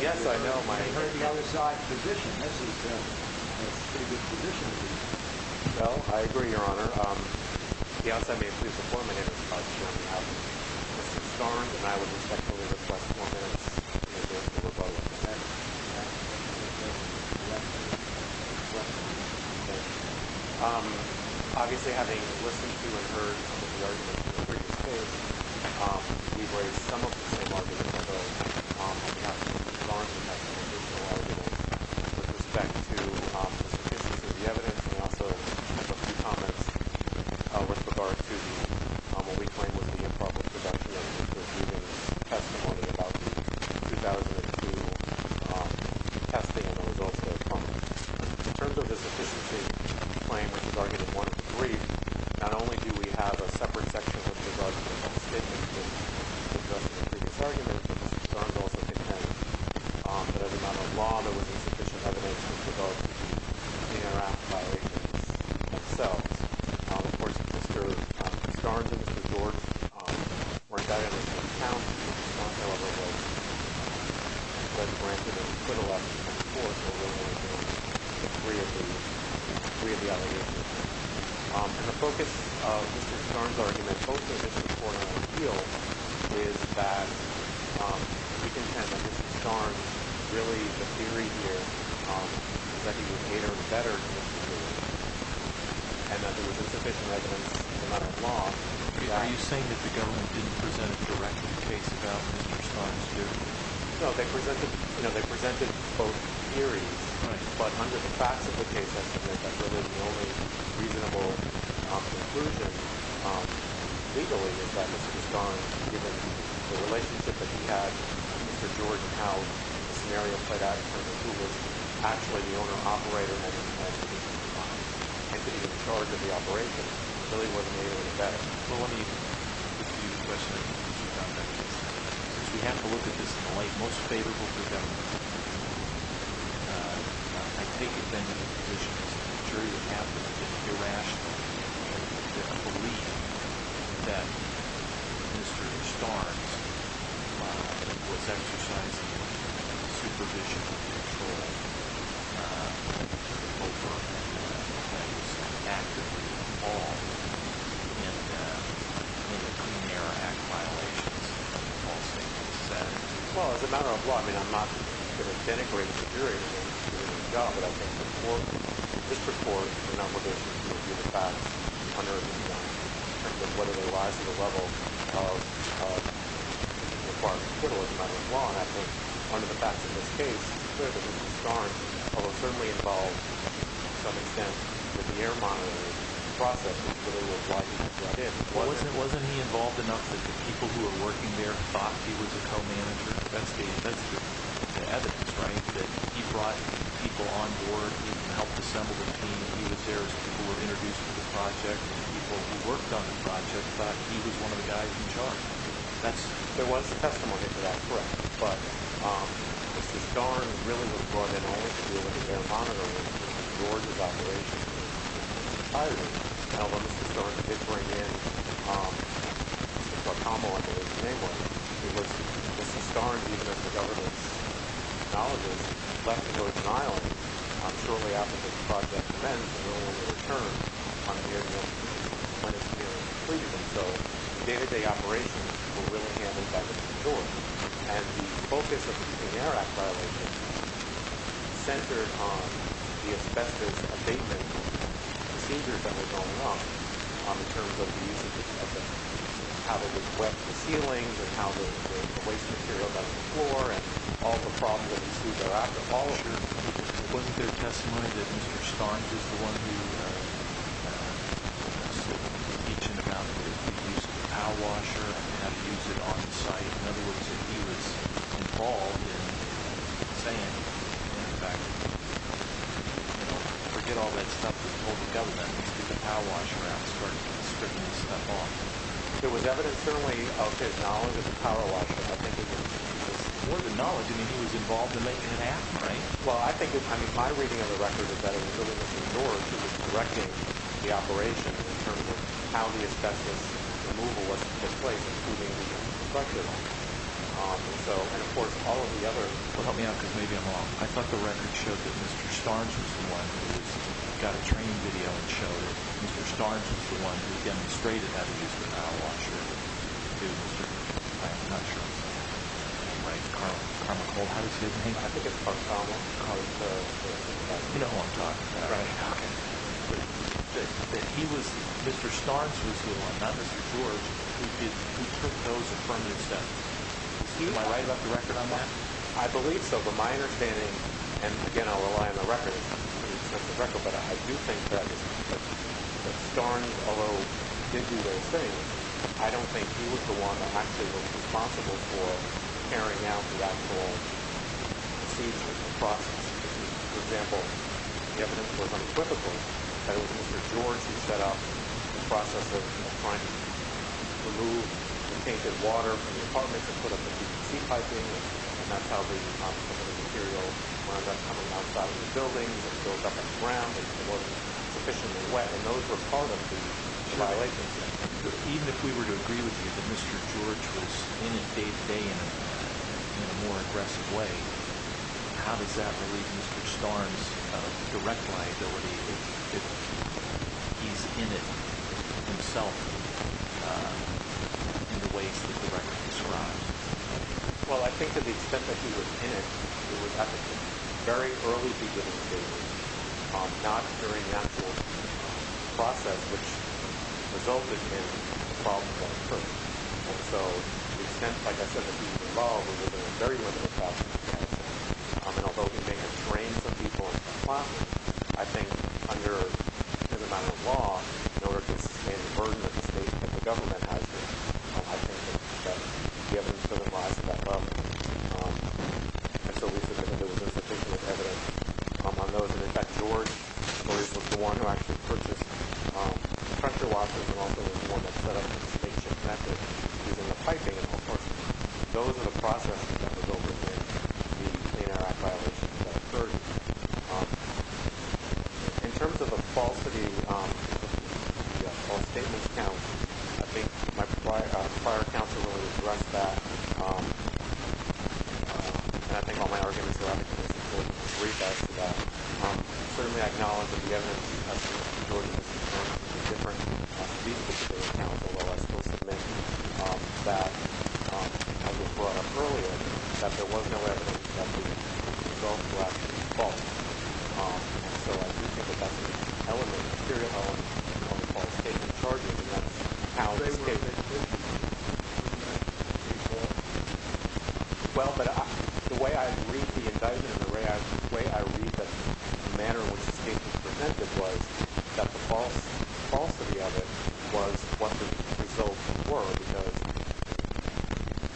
Yes, I know, Mike. Well, I agree, Your Honor. Obviously, having listened to and heard some of the arguments in the previous case, we have a lot of evidence that the court has been able to get a lot of evidence in regard to what we claim was the improper conduct of the evidence we've received and testimony about the 2002 testing and the results of that. In terms of the sufficiency of the claim, which was argued in 1 of the briefs, not only do we have a separate section which is argued in 1 of the statements that we've discussed in the previous argument, but Mr. Starnes also defended that as a matter of law, there wasn't sufficient evidence with regard to the interactive violations themselves. The focus of Mr. Starnes' argument, both in this report and in the appeal, is that we contend that Mr. Starnes really, the theory here, is that he would cater better to Mr. Starnes than he would to Mr. Jordan. I'm not sure how the scenario played out in terms of who was actually the owner-operator when this happened. He could be in charge of the operation. Clearly, he wasn't able to do that. Well, let me give you a question in terms of how that is, because we have to look at this in the light most favorable for the government. I take it, then, in the position as a jury to have the irrational belief that Mr. Starnes was exercising supervision and control over those actively involved in the Clean Air Act violations, all statements said? Well, as a matter of law, I mean, I'm not going to denigrate the jury for doing the job, but I think the court, the district court, the number of issues reviewed in the past under the law, and I think under the facts of this case, it's clear that Mr. Starnes was certainly involved, to some extent, in the air monitoring process, which is what it looked like. Wasn't he involved enough that the people who were working there thought he was a co-manager investigating? That's the evidence, right? That he brought people on board and helped assemble the team and he was there as people were introduced to the project and the people who worked on the project thought he was one of the guys in charge. There was testimony to that. Correct. But Mr. Starnes really was brought in only to do the air monitoring of George's operation entirely. Although Mr. Starnes did bring in Mr. Guacamo, I forget his name was, Mr. Starnes, even if left to go to trial shortly after this project commenced and only to return on a yearly basis when it's clearly completed. So the day-to-day operations were really handled by Mr. George. And the focus of the Air Act violations centered on the asbestos abatement procedures that were going on in terms of the usage of asbestos. How to equip the ceilings and how to put the waste material down the floor and all the problems with the after polisher. It wasn't their testimony that Mr. Starnes was the one who said each and every time they would use the pow washer and not use it on site. In other words, that he was involved in saying, in fact, forget all that stuff that the public government used to get the pow washer out and start stripping the stuff off. There was evidence, certainly, of his knowledge of the pow washer. I think it was more than knowledge. I mean, he was involved in making an act, right? Well, I think, I mean, my reading of the record is that it was really Mr. George who was directing the operation in terms of how the asbestos removal was in place, including the structure of it. And so, and of course, all of the other... Well, help me out because maybe I'm wrong. I thought the record showed that Mr. Starnes was the one who got a training video and showed that Mr. Starnes was the one who demonstrated how to use the pow washer to Mr., I'm not sure what his name was, right? Carmichael. How was his name? I think it was Carmichael. Carmichael. You know who I'm talking about. Right. But he was, Mr. Starnes was the one, not Mr. George, who took those affirmative steps. Am I right about the record on that? I believe so. From my understanding, and again, I'll rely on the record, but I do think that Starnes, although he did do those things, I don't think he was the one that actually was responsible for carrying out that whole procedure and process. For example, the evidence was unequivocal that it was Mr. George who set up the process of trying to remove the tainted water from the apartment to put up the PVC piping, and that's how the composite material wound up coming outside of the buildings and filled up the ground if it wasn't sufficiently wet, and those were part of the violations. Right. Even if we were to agree with you that Mr. George was in it day to day in a more aggressive way, how does that relieve Mr. Starnes' direct liability if he's in it himself in the ways that the record describes? Well, I think to the extent that he was in it, it was at the very early beginning stages, not during the actual process, which resulted in the problem of the apartment. And so, to the extent, like I said, that he was involved, it was a very limited problem that he had to solve. And although he may have trained some people in the plot, I think under certain amount of law, in order to sustain the burden of the state that the government has here, I don't think it's going to rise to that level. And so, there was no sufficient evidence on those. And in fact, George was the one who actually purchased the pressure washers and also was the one that set up the state ship method, using the piping and all sorts of things. Those are the processes that would override the Clean Air Act violations that occurred. In terms of the falsity of the false statements count, I think my prior counsel really addressed that. And I think all my arguments are up to this court to agree to that. Certainly, I acknowledge that the evidence as to whether George was concerned with these particular counts, although I suppose to make that, as was brought up earlier, that there was a false statement. And so, I do think that that's an element, a serial element of the false statement charges. And that's how the statement... They were issued. Well, but the way I read the indictment and the way I read the manner in which the statement was presented was that the falsity of it was what the results were. Because,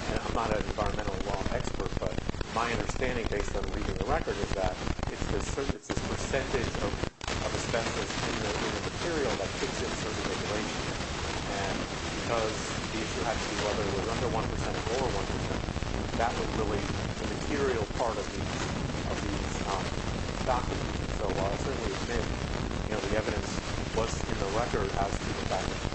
and I'm not an environmental law expert, but my understanding based on reading the record is that it's this percentage of asbestos in the material that fits into the regulation. And because the issue had to be whether it was under 1% or over 1%, that was really the material part of these documents. So, I'll certainly admit, the evidence in the record has to go back to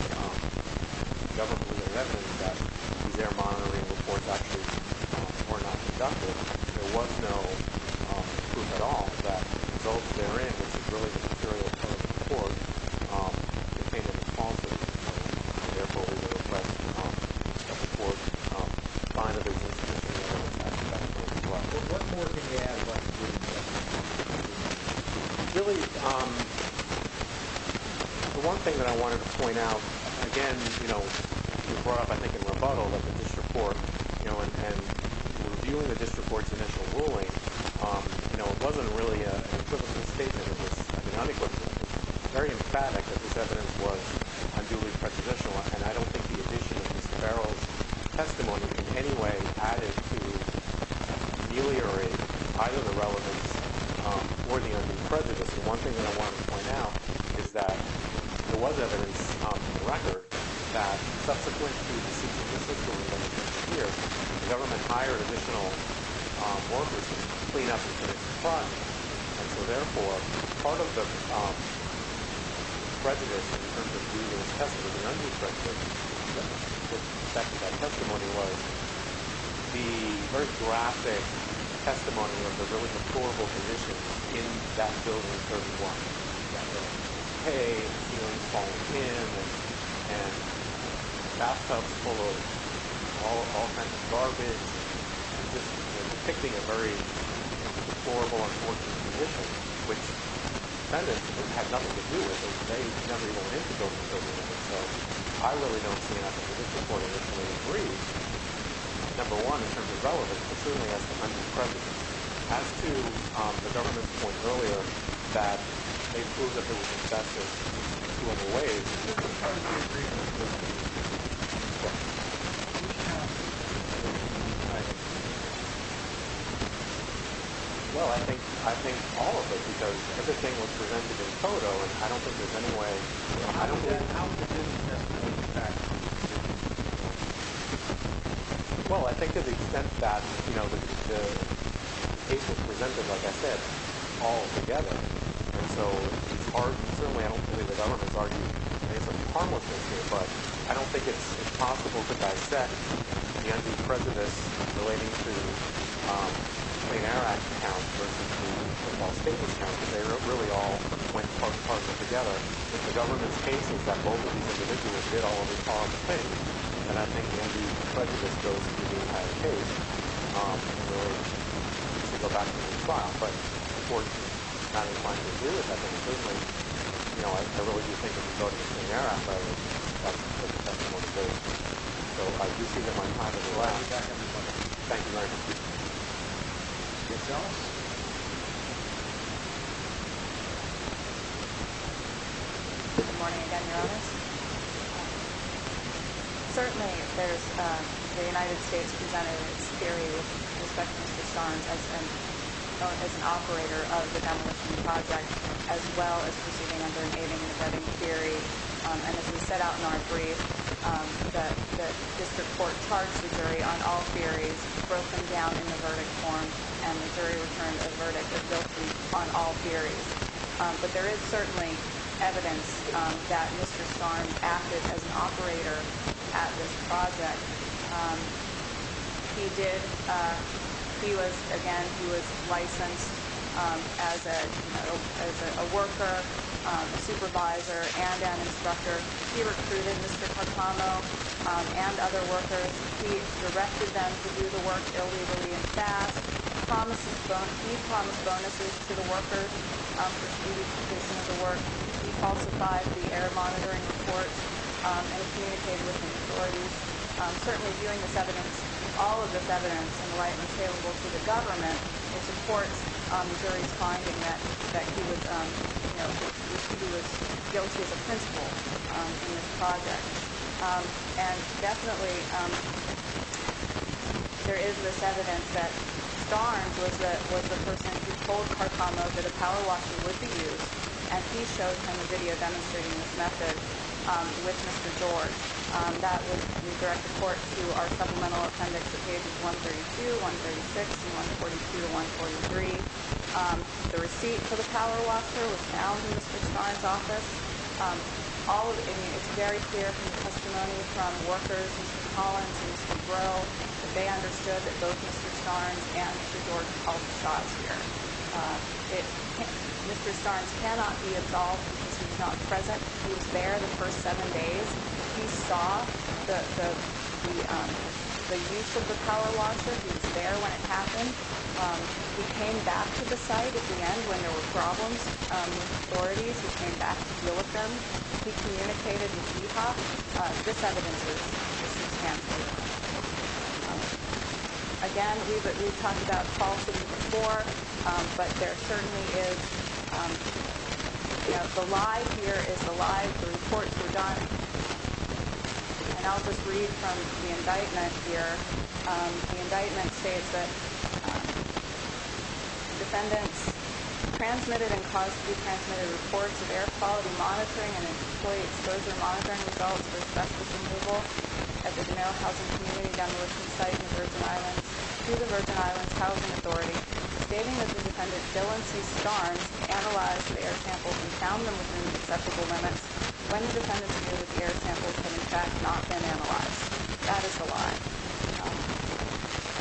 the government that these air monitoring reports actually were not conducted. There was no proof at all that the results therein, which is really the material part of the report, contained a false statement. And therefore, we would request that the court find at least a significant amount of asbestos. What more can you add to that? Really, the one thing that I wanted to point out, again, you brought up, I think, in rebuttal that the district court, and reviewing the district court's initial ruling, it wasn't really an equivocal statement. It was, I mean, unequivocally very emphatic that this evidence was unduly prejudicial. And I don't think the addition of Mr. Farrell's testimony in any way added to ameliorating either the relevance or the unduly prejudiced. The one thing that I wanted to point out is that there was evidence in the record that subsequent to the cease and desist ruling of this year, the government hired additional workers to clean up the city's crime. And so, therefore, part of the prejudice in terms of the testimony, the unduly prejudiced testimony was the very graphic testimony of the really deplorable conditions in that building 31. You've got hay, ceilings falling in, and bathtubs full of all kinds of garbage. It's just depicting a very deplorable and unfortunate condition, which the defendant had nothing to do with. They never even went in to build the building. And so, I really don't see how the judicial court initially agrees, number one, in terms of relevance. But secondly, as to the government's point earlier that they proved that there was injustice in two other ways. Well, I think all of it. Because everything was presented in photo, and I don't think there's any way... Well, I think to the extent that the case was presented, like I said, all together. And so, it's hard. Certainly, I don't believe the government's arguing that it's a harmless issue. But I don't think it's possible to dissect the undue prejudice relating to the Clean Air Act, while statelessly trying to say that really all went part and parcel together. If the government's case is that both of these individuals did all of the harmful things, then I think the undue prejudice goes to the entire case. And so, I guess we can go back to the trial. But unfortunately, it's not inclined to do it. I think certainly, you know, I really do think it's a building of the Clean Air Act, but that's the one state. So, I do see that my time has elapsed. Well, I'll be back. Thank you very much. Ms. Ellis? Good morning again, Your Honors. Certainly, there's the United States Presented its theory, with respect to Mr. Sharns, as an operator of the demolition project, as well as proceeding under an aiming and abetting theory. And as we set out in our brief, that this report charged the jury on all theories, broken down in the verdict form, and the jury returned a verdict of guilty on all theories. But there is certainly evidence that Mr. Sharns acted as an operator at this project. He did, he was, again, he was licensed as a worker, a supervisor, and an instructor. He recruited Mr. Cartamo and other workers. He directed them to do the work illegally and fast. He promised bonuses to the workers, which he was conditioned to work. He falsified the air monitoring reports, and he communicated with the authorities. Certainly, viewing this evidence, all of this evidence, in the light and scalable to the government, it supports the jury's finding that he was, you know, he was guilty as a principal in this project. And definitely, there is this evidence that Sharns was the person who told Cartamo that a power washer would be used, and he showed him a video demonstrating this method with Mr. George. That was, we direct the court to our supplemental appendix to pages 132, 136, and 142 and 143. The receipt for the power washer was found in Mr. Sharns' office. All of it, I mean, it's very clear from the testimony from workers, Mr. Collins and Mr. Breaux, that they understood that both Mr. Sharns and Mr. George called the shots here. Mr. Sharns cannot be absolved because he was not present. He was there the first seven days. He saw the use of the power washer. He was there when it happened. He came back to the site at the end when there were problems with authorities. He came back to deal with them. He communicated with DEOC. This evidence is substantial. Again, we've talked about falsehoods before, but there certainly is, you know, the lie here is the lie. The reports were done. And I'll just read from the indictment here. The indictment states that the defendants transmitted and caused to be transmitted reports of air quality monitoring and employee exposure monitoring results for specialist enable at the Denali Housing Community demolition site in the Virgin Islands to the Virgin Islands Housing Authority, stating that the defendant, Dylan C. Sharns, analyzed the air samples and found them within acceptable limits when the defendant's view that the air samples had in fact not been analyzed. That is a lie.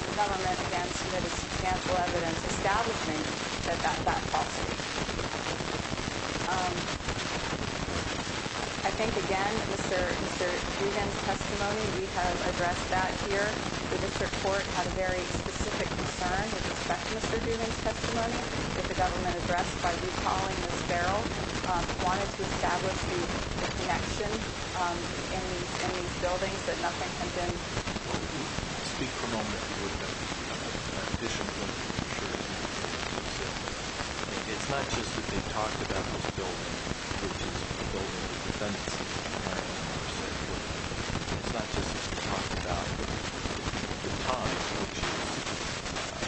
The government against substantial evidence establishing that that's not falsehood. I think, again, Mr. Dugan's testimony, we have addressed that here. This report had a very specific concern with respect to Mr. Dugan's testimony that the government addressed by recalling this barrel, wanted to establish the connection in these reports. And then... Well, speak for a moment, if you wouldn't mind. I'm fishing for a moment. Sure. It's not just that they talked about this building, which is a building that the defendants didn't have access to. It's not just that they talked about the time, which is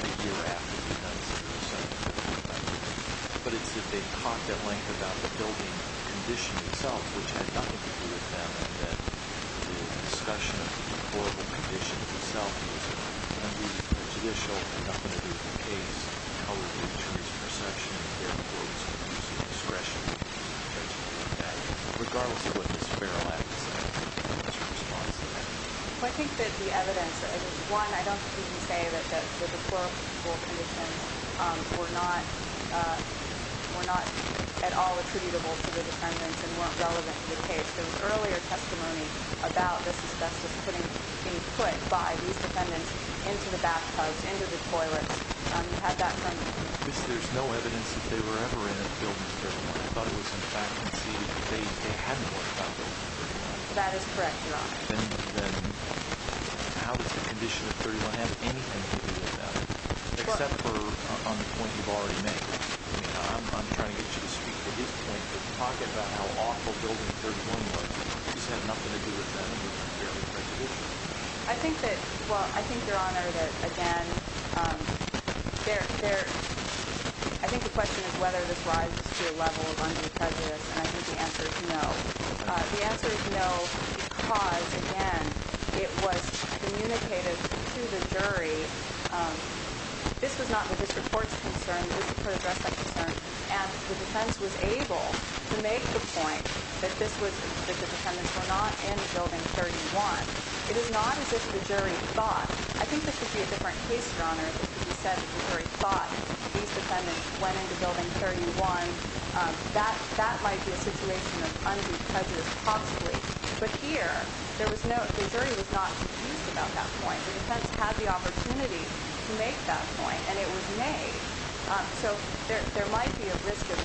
a year after the defendants did something. But it's that they talked at length about the building condition itself, which had nothing to do with them, and that the discussion of the deplorable conditions itself was a judicial and a political case. How would they choose perception of their clothes and use of discretion to do that, regardless of what this barrel had to say in response to that? Well, I think that the evidence... One, I don't think we can say that the deplorable conditions were not at all attributable to the defendants and weren't relevant to the case. There was earlier testimony about this asbestos being put by these defendants into the bath tubs, into the toilets. You had that from... Yes, there's no evidence that they were ever in a building that they weren't. I thought it was, in fact, conceded that they hadn't worked out that condition. That is correct, Your Honor. Then how is the condition of 31M anything to do with that? Except for on the point you've already made. I'm trying to get you to speak to his point, to talk about how awful Building 31 was. It just had nothing to do with them, with their own prejudices. I think that... Well, I think, Your Honor, that, again, there... I think the question is whether this rises to a level of unimprejudiced, and I think the answer is no. The answer is no because, again, it was communicated to the jury. This was not the district court's concern. The district court addressed that concern, and the defense was able to make the point that the defendants were not in Building 31. It is not as if the jury thought. I think this would be a different case, Your Honor, if it was said that the jury thought that these defendants went into Building 31. That might be a situation of undue prejudice possibly. But here, the jury was not confused about that point. The defense had the opportunity to make that point, and it was made. So there might be a risk of...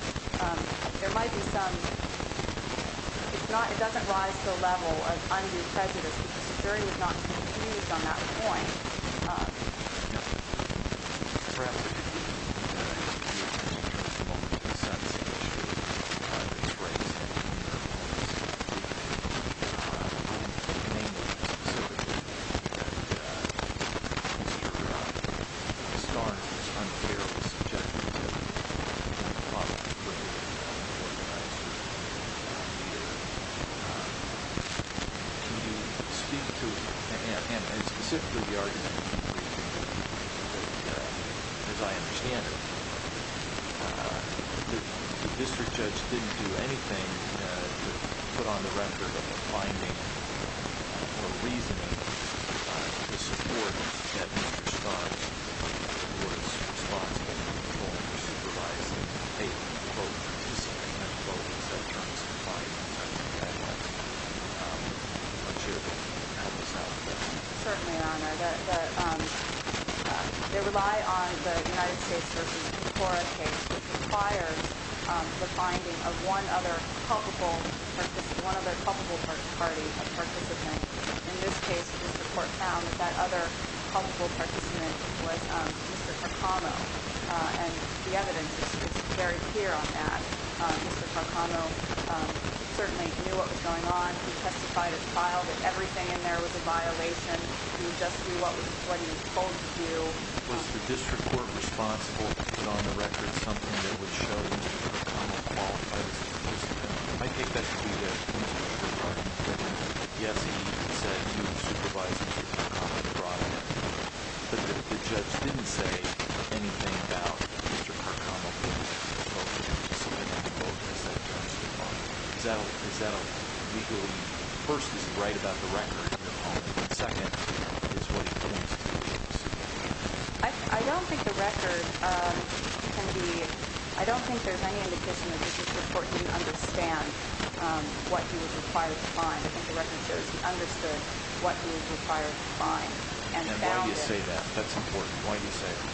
There might be some... It doesn't rise to the level of undue prejudice because the jury was not confused on that point. Your Honor, perhaps it would be appropriate to turn the ball to the subsequent jury that is raising their case. I can't name them specifically, but I can say that Mr. Starnes was unfairly subjected to a lot of prejudice by the organizers. Your Honor, can you speak to, and specifically the argument that, as I understand it, the district judge didn't do anything to put on the record a finding or reasoning to support that Mr. Starnes was responsible for controlling or supervising both the participant and both Mr. Starnes' client? I'm not sure if you have this out there. Certainly, Your Honor. They rely on the United States v. Petora case, which requires the finding of one other culpable party of participants. In this case, the court found that that other culpable participant was Mr. Tacano. And the evidence is very clear on that. Mr. Tacano certainly knew what was going on. He testified as filed that everything in there was a violation. He would just do what he was told to do. Was the district court responsible for putting on the record something that would show that Mr. Tacano qualifies as a participant? I think that could be the case. Yes, he said he was supervising Mr. Tacano. But the judge didn't say anything about Mr. Tacano being responsible for something that both Mr. Starnes did not. Is that a legal reason? First, it's right about the record in the home. Second, it's what he claims to be responsible for. I don't think the record can be—I don't think there's any indication that the district court didn't understand what he was required to find. I don't think the record shows he understood what he was required to find. And why do you say that? That's important. Why do you say that?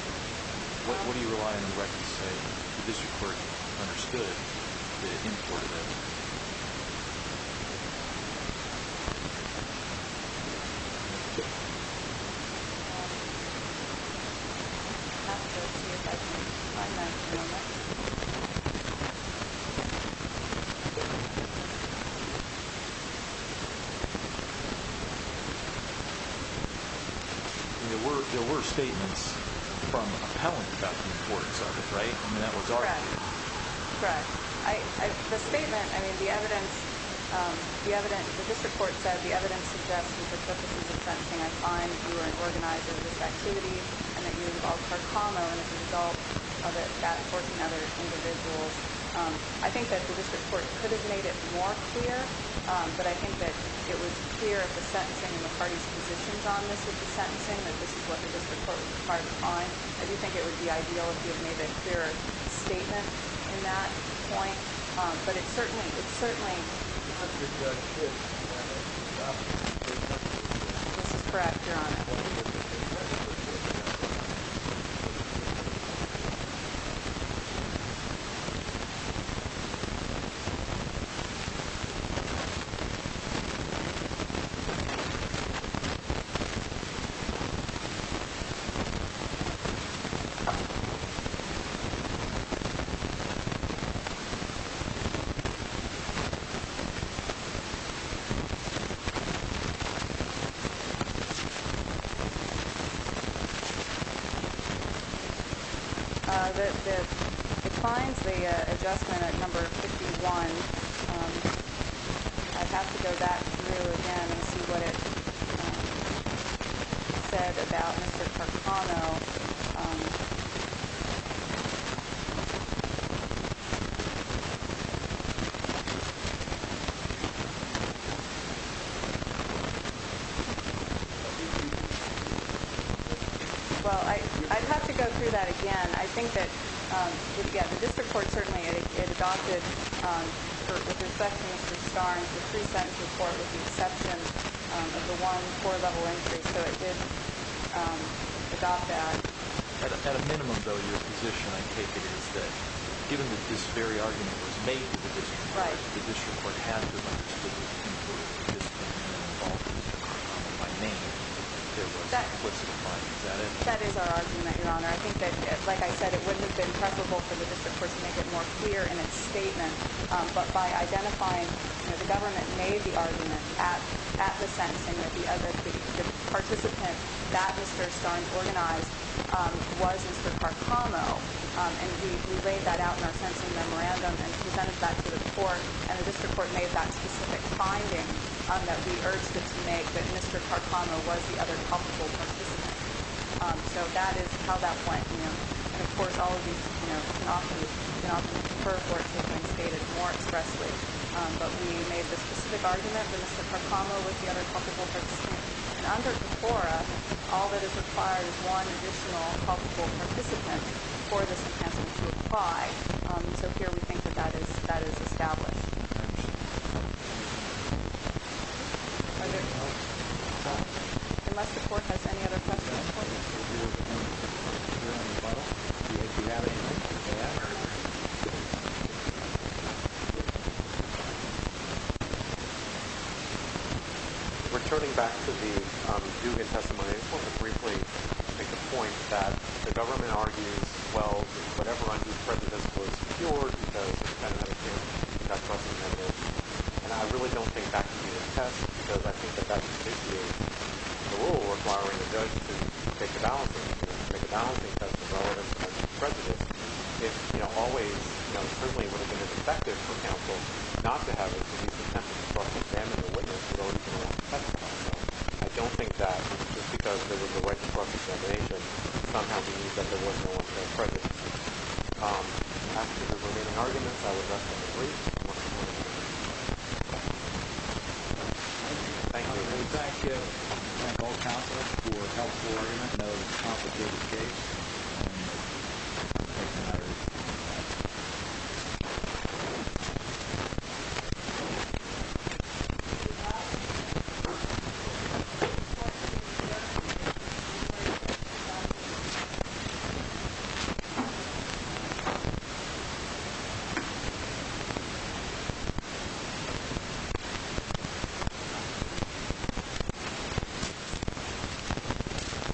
What do you rely on the record to say that the district court understood the import of evidence? There were statements from appellants about the importance of it, right? That was already there. Correct. The statement—I mean, the evidence—the district court said the evidence suggests that the purpose of the sentencing, I find, you were an organizer of this activity and that you involved Mr. Tacano as a result of it back-forking other individuals. I think that the district court could have made it more clear, but I think that it was clear at the sentencing and the parties' positions on this at the sentencing that this is what the district court was required to find. I do think it would be ideal if you had made a clearer statement in that point. But it certainly— This is correct, Your Honor. Thank you. Thank you. Thank you. It finds the adjustment at number 51. I'd have to go back through again and see what it said about Mr. Tacano. Well, I'd have to go through that again. I think that, yeah, the district court certainly adopted, with respect to Mr. Starnes, the pre-sentence report with the exception of the one poor-level injury. So it did adopt that. At a minimum, though, your position, I take it, is that given that this very argument was made by the district court, the district court had to have understood that you were a participant in the involvement of Mr. Tacano by name. There was—what's it imply? Is that it? That is our argument, Your Honor. I think that, like I said, it wouldn't have been pressable for the district court to make it more clear in its statement, but by identifying—the government made the argument at the sentencing that the other—the participant that Mr. Starnes organized was Mr. Tacano, and we laid that out in our sentencing memorandum and presented that to the court, and the district court made that specific finding that we urged it to make, that Mr. Tacano was the other culpable participant. So that is how that went. And, of course, all of these, you know, can often—can often prefer for it to have been stated more expressly, but we made the specific argument that Mr. Tacano was the other culpable participant. And under the CORA, all that is required is one additional culpable participant for the sentencing to apply. So here we think that that is—that is established. Are there—unless the court has any other questions for you. Returning back to the Dugan testimony, I just want to briefly make the point that the government argues, well, whatever undue prejudice was secured because the defendant had a chance to testify. And I really don't think that can be the test, because I think that that just basically is the rule requiring the judge to take a balancing test as well as an undue prejudice. It, you know, always, you know, certainly would have been as effective, for example, not to have at least an attempt to cross-examine the witness, but only if the witness had testified. I don't think that, just because there was a right to cross-examination, somehow the defendant was no longer prejudiced. After the remaining arguments, I would like to brief the court. Thank you. Thank you. And we thank you and both counsels for helpful arguments of complicated case. Thank you.